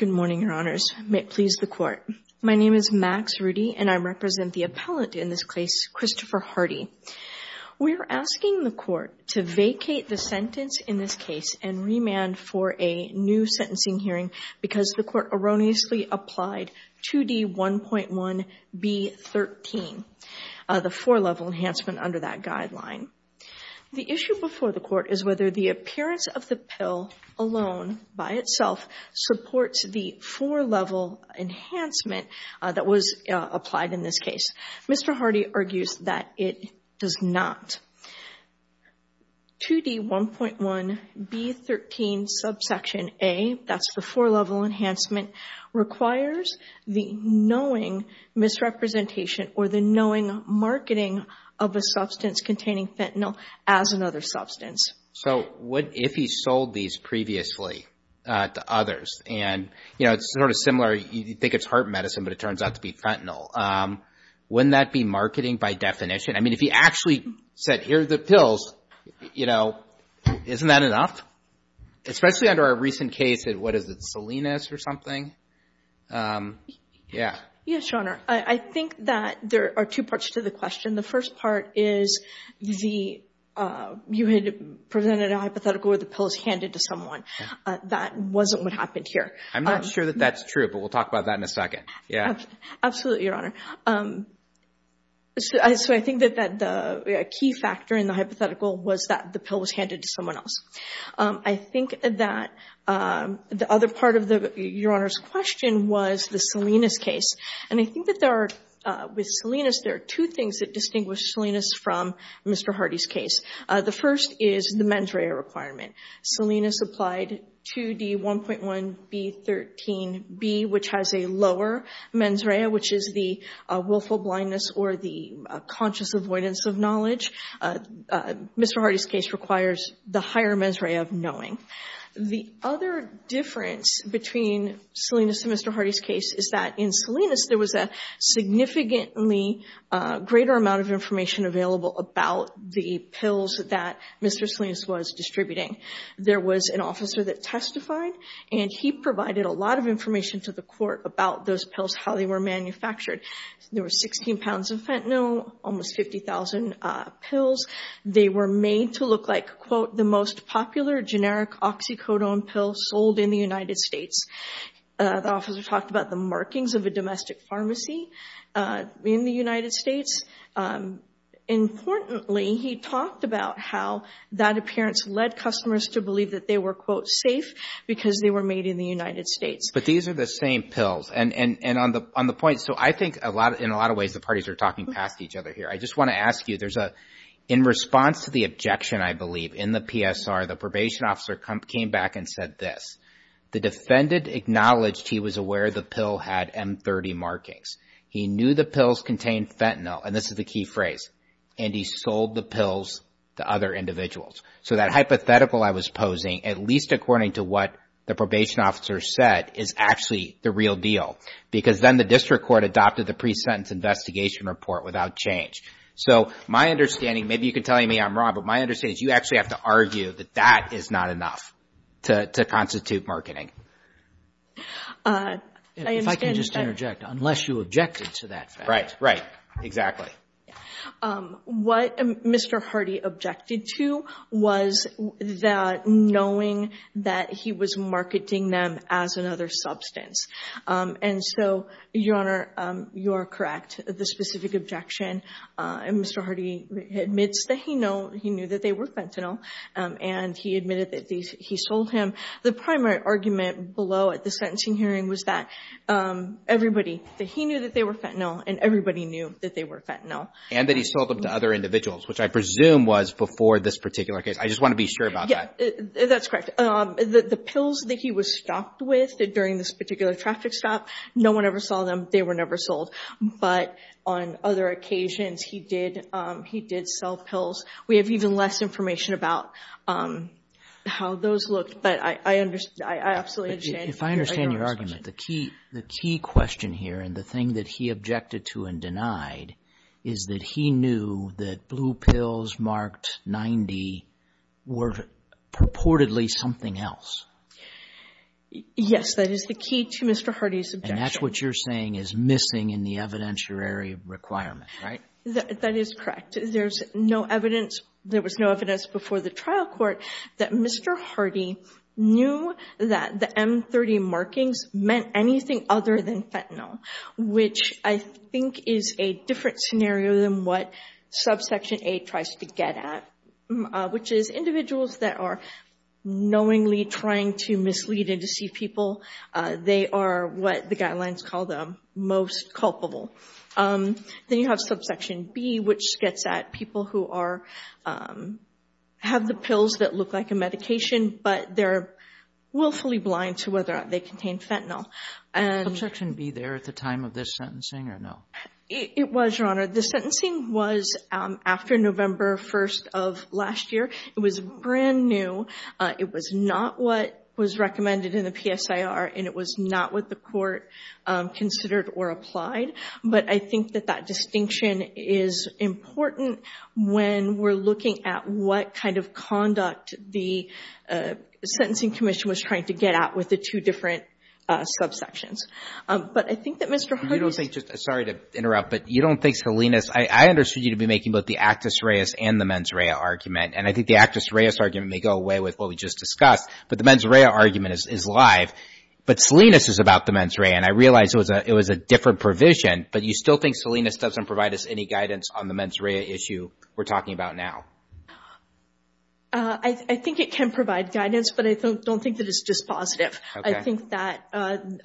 Good morning, Your Honors. May it please the Court. My name is Max Rudy, and I represent the appellant in this case, Christopher Hardy. We're asking the Court to vacate the sentence in this case and remand for a new sentencing hearing because the Court erroneously applied 2D1.1B13, the four-level enhancement under that guideline. The issue before the Court is whether the appearance of the pill alone by itself supports the four-level enhancement that was applied in this case. Mr. Hardy argues that it does not. 2D1.1B13 subsection A, that's the four-level enhancement, requires the knowing misrepresentation or the knowing marketing of a substance containing fentanyl as another substance. So, what if he sold these previously to others? And, you know, it's sort of similar. You think it's heart medicine, but it turns out to be fentanyl. Wouldn't that be marketing by definition? I mean, if he actually said, here are the pills, you know, isn't that enough? Especially under a recent case of, what is it, Salinas or something? Yeah. Yes, Your Honor. I think that there are two parts to the question. The first part is you had presented a hypothetical where the pill was handed to someone. That wasn't what happened here. I'm not sure that that's true, but we'll talk about that in a second. Yeah. Absolutely, Your Honor. So, I think that a key factor in the hypothetical was that the pill was handed to someone else. I think that the other part of Your Honor's question was the Salinas case. And I think that with Salinas, there are two things that distinguish Salinas from Mr. Hardy's case. The first is the mens rea requirement. Salinas applied 2D1.1B13B, which has a lower mens rea, which is the willful blindness or the conscious avoidance of knowledge. Mr. Hardy's case requires the higher mens rea of knowing. The other difference between Salinas and Mr. Hardy's case is that in Salinas, there was a significantly greater amount of information available about the pills that Mr. Salinas was distributing. There was an officer that testified, and he provided a lot of information to the court about those pills, how they were manufactured. There were 16 pounds of fentanyl, almost 50,000 pills. They were made to look like, quote, the most popular generic oxycodone pill sold in the United States. The officer talked about the markings of a domestic pharmacy in the United States. Importantly, he talked about how that appearance led customers to believe that they were, quote, safe because they were made in the United States. But these are the same pills. And on the point, so I think in a lot of ways, the parties are talking past each other here. I just wanna ask you, there's a, in response to the objection, I believe, in the PSR, the probation officer came back and said this. The defendant acknowledged he was aware the pill had M30 markings. He knew the pills contained fentanyl, and this is the key phrase, and he sold the pills to other individuals. So that hypothetical I was posing, at least according to what the probation officer said, is actually the real deal. Because then the district court adopted the pre-sentence investigation report without change. So my understanding, maybe you can tell me I'm wrong, but my understanding is you actually have to argue that that is not enough to constitute marketing. If I can just interject, unless you objected to that fact. Right, right, exactly. What Mr. Hardy objected to was that knowing that he was marketing them as another substance. And so, Your Honor, you are correct. The specific objection, Mr. Hardy admits that he knew that they were fentanyl, and he admitted that he sold him. The primary argument below at the sentencing hearing was that everybody, that he knew that they were fentanyl, and everybody knew that they were fentanyl. And that he sold them to other individuals, which I presume was before this particular case. I just want to be sure about that. That's correct. The pills that he was stocked with during this particular traffic stop, no one ever saw them, they were never sold. But on other occasions, he did sell pills. We have even less information about how those looked, but I absolutely understand. If I understand your argument, the key question here, and the thing that he objected to and denied, is that he knew that blue pills marked 90 were purportedly something else. Yes, that is the key to Mr. Hardy's objection. And that's what you're saying is missing in the evidentiary requirement, right? That is correct. There was no evidence before the trial court that Mr. Hardy knew that the M30 markings meant anything other than fentanyl. Which I think is a different scenario than what subsection A tries to get at. Which is individuals that are knowingly trying to mislead and deceive people, they are what the guidelines call the most culpable. Then you have subsection B, which gets at people who have the pills that look like a medication, but they're willfully blind to whether or not they contain fentanyl. Subsection B there at the time of this sentencing, or no? It was, Your Honor. The sentencing was after November 1st of last year. It was brand new. It was not what was recommended in the PSIR, and it was not what the court considered or applied. But I think that that distinction is important when we're looking at what kind of conduct the Sentencing Commission was trying to get at with the two different subsections. But I think that Mr. Hardy is- You don't think, sorry to interrupt, but you don't think Salinas, I understood you to be making both the Actus Reus and the mens rea argument. And I think the Actus Reus argument may go away with what we just discussed, but the mens rea argument is live. But Salinas is about the mens rea, and I realize it was a different provision, but you still think Salinas doesn't provide us any guidance on the mens rea issue we're talking about now? I think it can provide guidance, but I don't think that it's just positive. I think that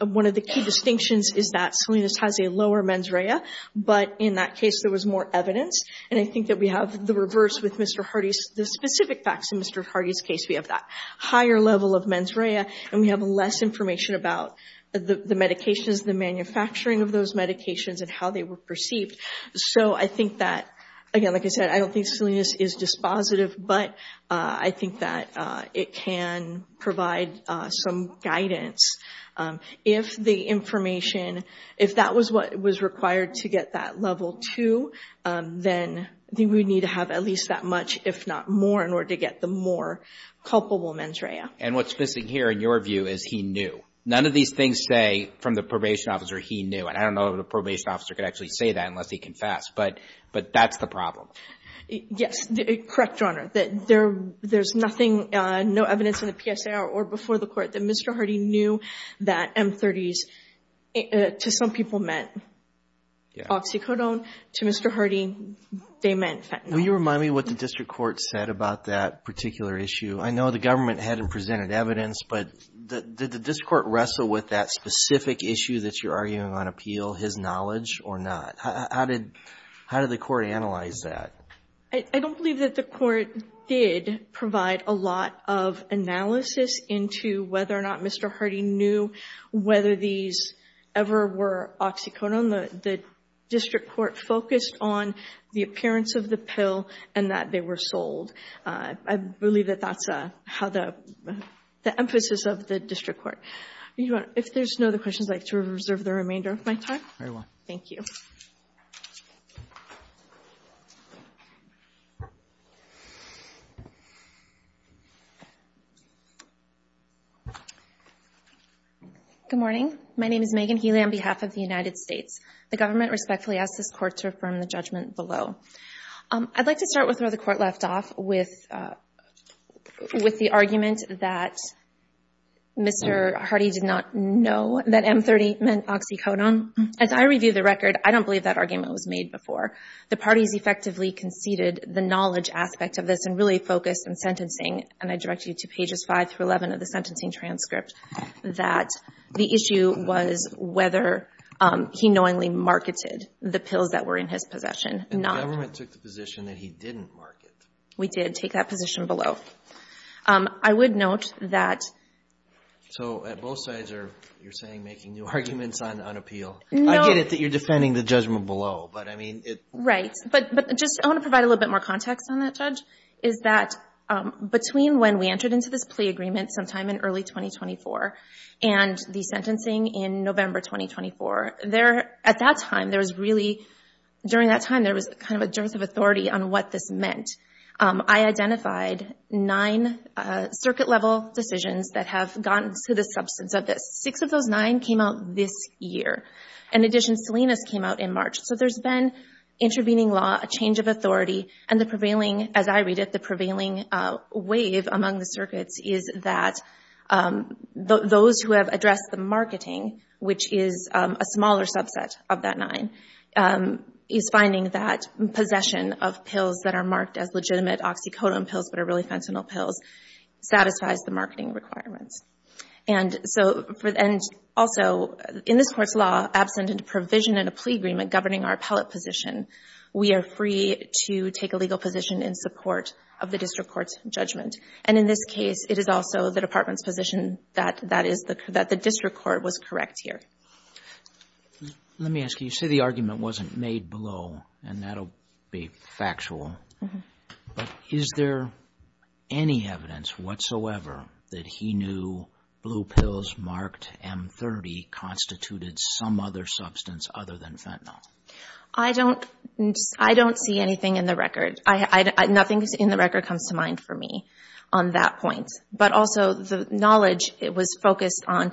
one of the key distinctions is that Salinas has a lower mens rea, but in that case there was more evidence. And I think that we have the reverse with Mr. Hardy's, the specific facts in Mr. Hardy's case, we have that higher level of mens rea, and we have less information about the medications, the manufacturing of those medications, and how they were perceived. So I think that, again, like I said, I don't think Salinas is just positive, but I think that it can provide some guidance. If the information, if that was what was required to get that level two, then we would need to have at least that much, if not more, in order to get the more culpable mens rea. And what's missing here, in your view, is he knew. None of these things say, from the probation officer, he knew. And I don't know if the probation officer could actually say that unless he confessed, but that's the problem. Yes, correct, Your Honor, that there's no evidence in the PSA or before the court that Mr. Hardy knew that M30s, to some people, meant oxycodone. To Mr. Hardy, they meant fentanyl. Will you remind me what the district court said about that particular issue? I know the government hadn't presented evidence, but did the district court wrestle with that specific issue that you're arguing on appeal, his knowledge or not? How did the court analyze that? I don't believe that the court did provide a lot of analysis into whether or not Mr. Hardy knew whether these ever were oxycodone. The district court focused on the appearance of the pill and that they were sold. I believe that that's how the emphasis of the district court. Your Honor, if there's no other questions, I'd like to reserve the remainder of my time. Very well. Thank you. Good morning. My name is Megan Healy on behalf of the United States. The government respectfully asks this court to affirm the judgment below. I'd like to start with where the court left off. With the argument that Mr. Hardy did not know that M30 meant oxycodone. As I review the record, I don't believe that argument was made before. The parties effectively conceded the knowledge aspect of this and really focused on sentencing. And I direct you to pages five through 11 of the sentencing transcript that the issue was whether he knowingly marketed the pills that were in his possession. The government took the position that he didn't market. We did take that position below. I would note that... So at both sides you're saying making new arguments on appeal. No. I get it that you're defending the judgment below, but I mean it... Right, but just I want to provide a little bit more context on that, Judge, is that between when we entered into this plea agreement sometime in early 2024 and the sentencing in November 2024, at that time there was really, during that time there was kind of a dearth of authority on what this meant. I identified nine circuit-level decisions that have gotten to the substance of this. Six of those nine came out this year. In addition, Salinas came out in March. So there's been intervening law, a change of authority, and the prevailing, as I read it, the prevailing wave among the circuits is that those who have addressed the marketing, which is a smaller subset of that nine, is finding that possession of pills that are marked as legitimate oxycodone pills, but are really fentanyl pills, satisfies the marketing requirements. And also, in this court's law, absent a provision in a plea agreement governing our appellate position, we are free to take a legal position in support of the district court's judgment. And in this case, it is also the department's position that the district court was correct here. Let me ask you, you say the argument wasn't made below, and that'll be factual, but is there any evidence whatsoever that he knew blue pills marked M30 constituted some other substance other than fentanyl? I don't see anything in the record. Nothing in the record comes to mind for me on that point. But also, the knowledge was focused on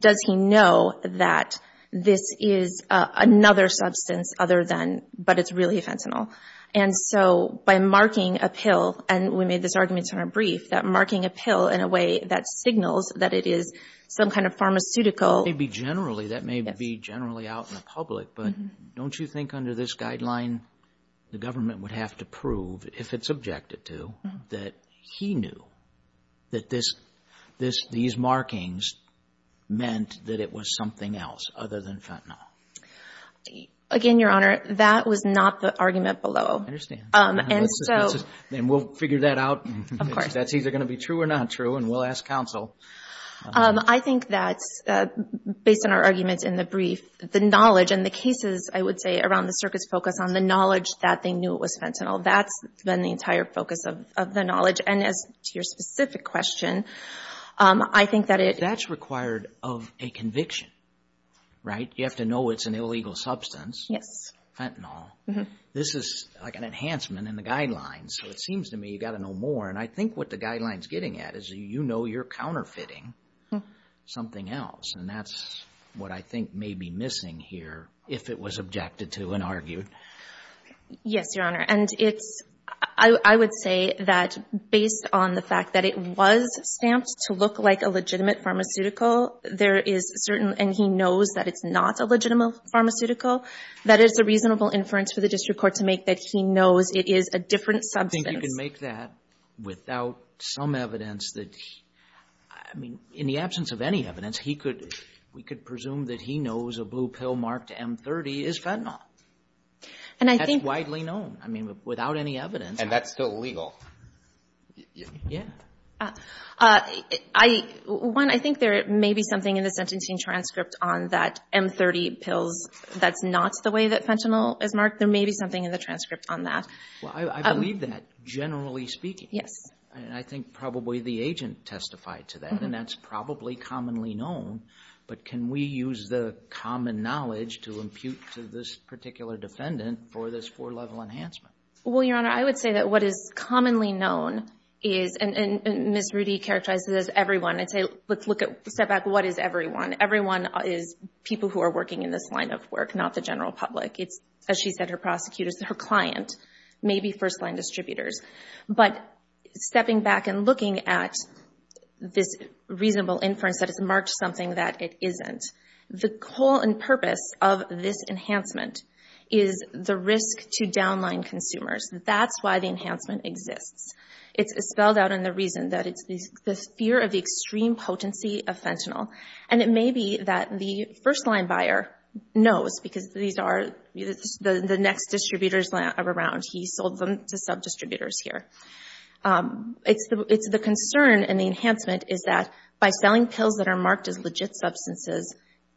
does he know that this is another substance other than, but it's really fentanyl? And so, by marking a pill, and we made this argument in our brief, that marking a pill in a way that signals that it is some kind of pharmaceutical. Maybe generally, that may be generally out in the public, but don't you think under this guideline, the government would have to prove, if it's objected to, that he knew that these markings meant that it was something else other than fentanyl? Again, Your Honor, that was not the argument below. And so... And we'll figure that out. Of course. That's either gonna be true or not true, and we'll ask counsel. I think that's, based on our arguments in the brief, the knowledge and the cases, I would say, around the circuits focus on the knowledge that they knew it was fentanyl. That's been the entire focus of the knowledge. And as to your specific question, I think that it... That's required of a conviction, right? You have to know it's an illegal substance. Yes. Fentanyl. This is like an enhancement in the guidelines, so it seems to me you gotta know more, and I think what the guideline's getting at is you know you're counterfeiting something else, and that's what I think may be missing here, if it was objected to and argued. Yes, Your Honor, and it's... I would say that, based on the fact that it was stamped to look like a legitimate pharmaceutical, there is certain, and he knows that it's not a legitimate pharmaceutical, that is a reasonable inference for the district court to make that he knows it is a different substance. I think you can make that without some evidence that... I mean, in the absence of any evidence, he could, we could presume that he knows a blue pill marked M30 is fentanyl. And I think... That's widely known. I mean, without any evidence... And that's still legal. Yeah. One, I think there may be something in the sentencing transcript on that M30 pills that's not the way that fentanyl is marked. There may be something in the transcript on that. Well, I believe that, generally speaking. Yes. And I think probably the agent testified to that, and that's probably commonly known, but can we use the common knowledge to impute to this particular defendant for this four-level enhancement? Well, Your Honor, I would say that what is commonly known is, and Ms. Rudy characterized it as everyone, I'd say, let's look at, step back, what is everyone? Everyone is people who are working in this line of work, not the general public. It's, as she said, her prosecutors, her client, maybe first-line distributors. But stepping back and looking at this reasonable inference that it's marked something that it isn't, the goal and purpose of this enhancement is the risk to downline consumers. That's why the enhancement exists. It's spelled out in the reason that it's the fear of the extreme potency of fentanyl. And it may be that the first-line buyer knows, because these are the next distributors around. He sold them to sub-distributors here. It's the concern in the enhancement is that by selling pills that are marked as legit substances,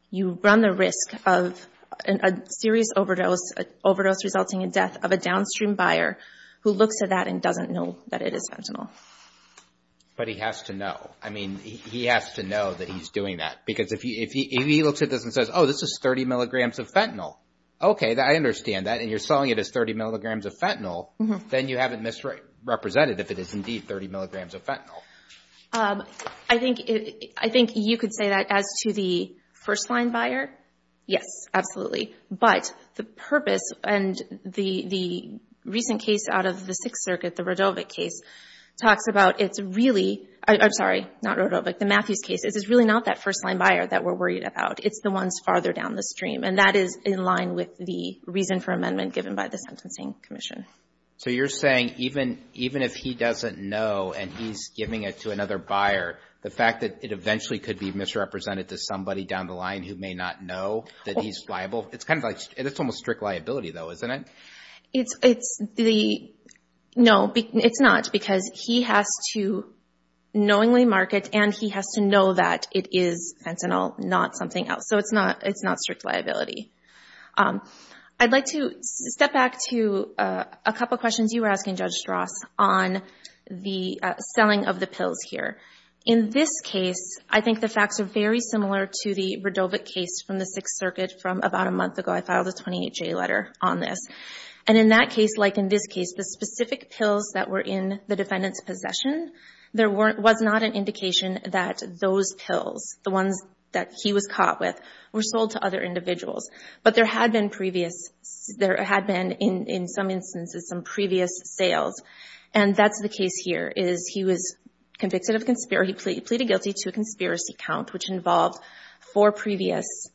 you run the risk of a serious overdose, overdose resulting in death of a downstream buyer who looks at that and doesn't know that it is fentanyl. But he has to know. I mean, he has to know that he's doing that. Because if he looks at this and says, oh, this is 30 milligrams of fentanyl, okay, I understand that, and you're selling it as 30 milligrams of fentanyl, then you have it misrepresented if it is indeed 30 milligrams of fentanyl. I think you could say that as to the first-line buyer. Yes, absolutely. But the purpose and the recent case out of the Sixth Circuit, the Rodovic case, talks about it's really, I'm sorry, not Rodovic, the Matthews case, it's really not that first-line buyer that we're worried about. It's the ones farther down the stream. And that is in line with the reason for amendment given by the Sentencing Commission. So you're saying even if he doesn't know and he's giving it to another buyer, the fact that it eventually could be misrepresented to somebody down the line who may not know that he's liable, it's kind of like, it's almost strict liability, though, isn't it? It's the, no, it's not, because he has to knowingly mark it and he has to know that it is fentanyl, not something else. So it's not strict liability. I'd like to step back to a couple questions you were asking, Judge Strauss, on the selling of the pills here. In this case, I think the facts are very similar to the Radovich case from the Sixth Circuit from about a month ago. I filed a 28-J letter on this. And in that case, like in this case, the specific pills that were in the defendant's possession, there was not an indication that those pills, the ones that he was caught with, were sold to other individuals. But there had been previous, there had been, in some instances, some previous sales. And that's the case here, is he was convicted of, he pleaded guilty to a conspiracy count, which involved four previous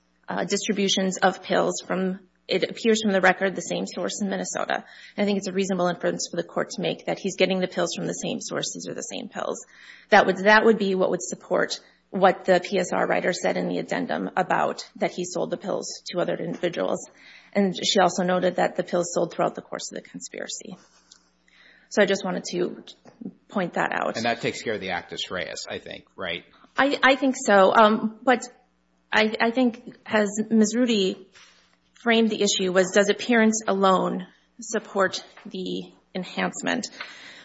distributions of pills from, it appears from the record, the same source in Minnesota. I think it's a reasonable inference for the court to make that he's getting the pills from the same sources or the same pills. That would be what would support what the PSR writer said in the addendum about that he sold the pills to other individuals. And she also noted that the pills sold throughout the course of the conspiracy. So I just wanted to point that out. And that takes care of the actus reus, I think, right? I think so. But I think, as Ms. Rudy framed the issue, was does appearance alone support the enhancement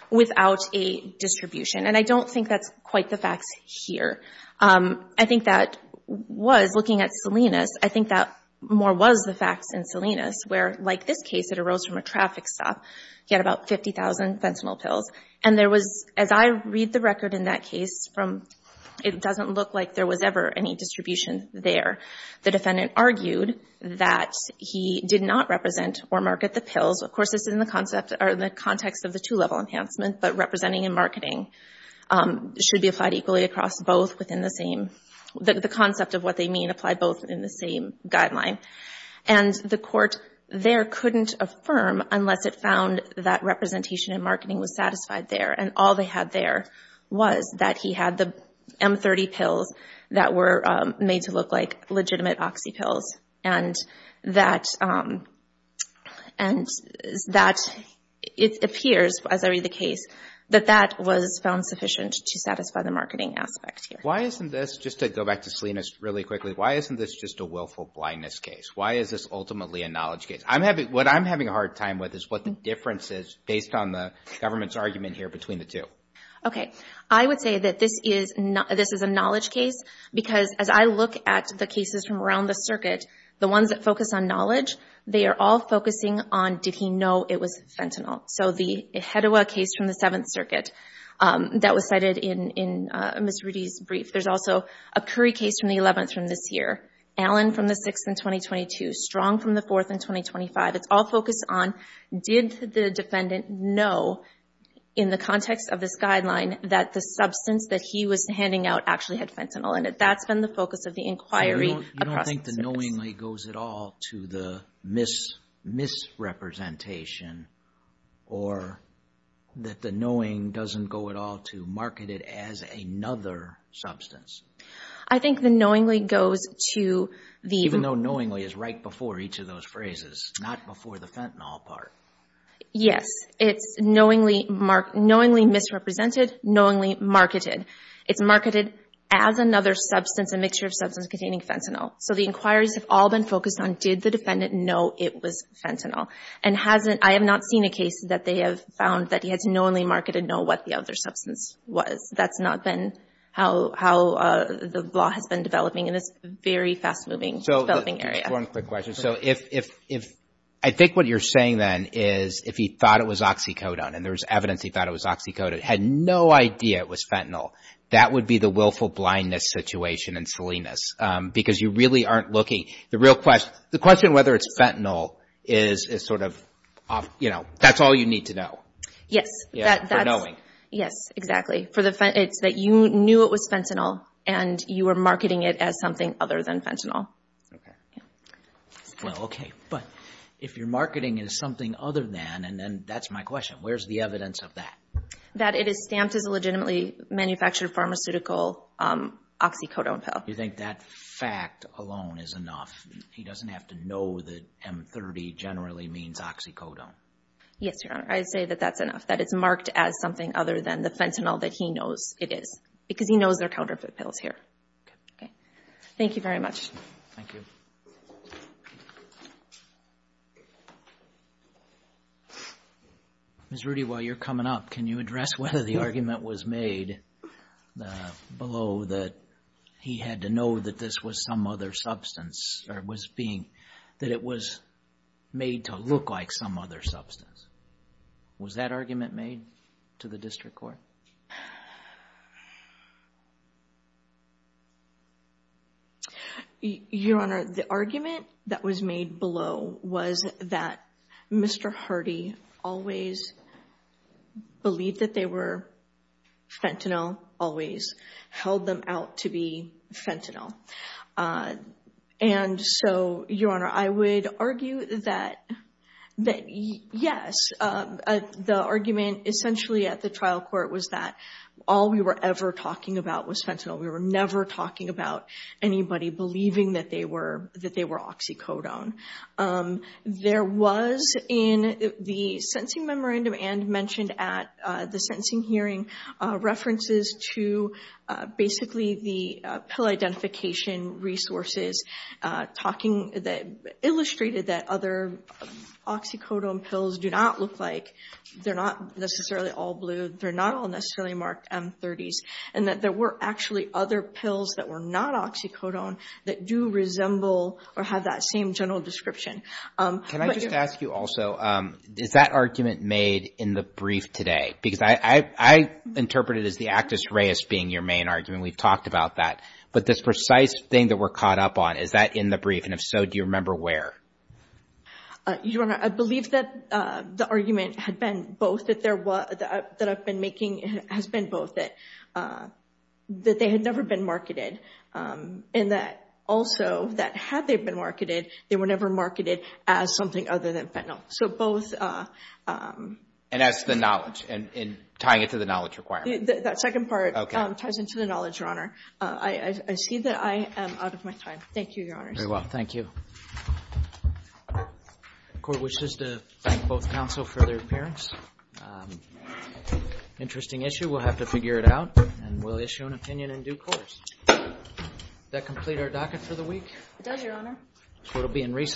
without a distribution? And I don't think that's quite the facts here. I think that was, looking at Salinas, I think that more was the facts in Salinas, where, like this case, it arose from a traffic stop. He had about 50,000 fentanyl pills. And there was, as I read the record in that case, it doesn't look like there was ever any distribution there. The defendant argued that he did not represent or market the pills. Of course, this is in the context of the two-level enhancement. But representing and marketing should be applied equally across both within the same, the concept of what they mean applied both in the same guideline. And the court there couldn't affirm unless it found that representation and marketing was satisfied there. And all they had there was that he had the M30 pills that were made to look like legitimate oxy pills. And that it appears, as I read the case, that that was found sufficient to satisfy the marketing aspect here. Why isn't this, just to go back to Salinas really quickly, why isn't this just a willful blindness case? Why is this ultimately a knowledge case? What I'm having a hard time with is what the difference is, based on the government's argument here between the two. Okay, I would say that this is a knowledge case because as I look at the cases from around the circuit, the ones that focus on knowledge, they are all focusing on did he know it was fentanyl? So the Hedewa case from the Seventh Circuit that was cited in Ms. Rudy's brief. There's also a Curry case from the 11th from this year. Allen from the 6th in 2022. Strong from the 4th in 2025. It's all focused on did the defendant know in the context of this guideline that the substance that he was handing out actually had fentanyl in it? That's been the focus of the inquiry across the circuit. You don't think the knowingly goes at all to the misrepresentation or that the knowing doesn't go at all to market it as another substance? I think the knowingly goes to the- Even though knowingly is right before each of those phrases, not before the fentanyl part. Yes, it's knowingly misrepresented, knowingly marketed. It's marketed as another substance, a mixture of substance containing fentanyl. So the inquiries have all been focused on did the defendant know it was fentanyl? And I have not seen a case that they have found that he has knowingly marketed know what the other substance was. That's not been how the law has been developing in this very fast-moving developing area. Just one quick question. So if, I think what you're saying then is if he thought it was oxycodone and there was evidence he thought it was oxycodone, had no idea it was fentanyl, that would be the willful blindness situation in Salinas because you really aren't looking. The real question, the question whether it's fentanyl is sort of, you know, that's all you need to know. Yes. For knowing. Yes, exactly. For the, it's that you knew it was fentanyl and you were marketing it as something other than fentanyl. Well, okay. But if your marketing is something other than, and that's my question, where's the evidence of that? That it is stamped as a legitimately manufactured pharmaceutical oxycodone pill. You think that fact alone is enough? He doesn't have to know that M30 generally means oxycodone. Yes, Your Honor. I'd say that that's enough, that it's marked as something other than the fentanyl that he knows it is because he knows they're counterfeit pills here. Okay. Thank you very much. Thank you. Ms. Rudy, while you're coming up, can you address whether the argument was made below that he had to know that this was some other substance or was being, that it was made to look like some other substance? Was that argument made to the district court? Your Honor, the argument that was made below was that Mr. Hardy always believed that they were fentanyl, always held them out to be fentanyl. And so, Your Honor, I would argue that, yes, the argument essentially at the trial court was that all we were ever talking about was fentanyl. We were never talking about anybody believing that they were oxycodone. There was, in the sentencing memorandum and mentioned at the sentencing hearing, references to basically the pill identification resources talking, illustrated that other oxycodone pills do not look like, they're not necessarily all blue, they're not all necessarily marked M30s, and that there were actually other pills that were not oxycodone that do resemble or have that same general description. Can I just ask you also, is that argument made in the brief today? Because I interpret it as the actus reus being your main argument. We've talked about that. But this precise thing that we're caught up on, is that in the brief? And if so, do you remember where? Your Honor, I believe that the argument had been both that there was, that I've been making, has been both that they had never been marketed. And that also, that had they been marketed, they were never marketed as something other than fentanyl. So both. And that's the knowledge, and tying it to the knowledge requirement. That second part ties into the knowledge, Your Honor. I see that I am out of my time. Thank you, Your Honor. Very well, thank you. The court wishes to thank both counsel for their appearance. Interesting issue, we'll have to figure it out. And we'll issue an opinion in due course. That complete our docket for the week? It does, Your Honor. Court will be in recess.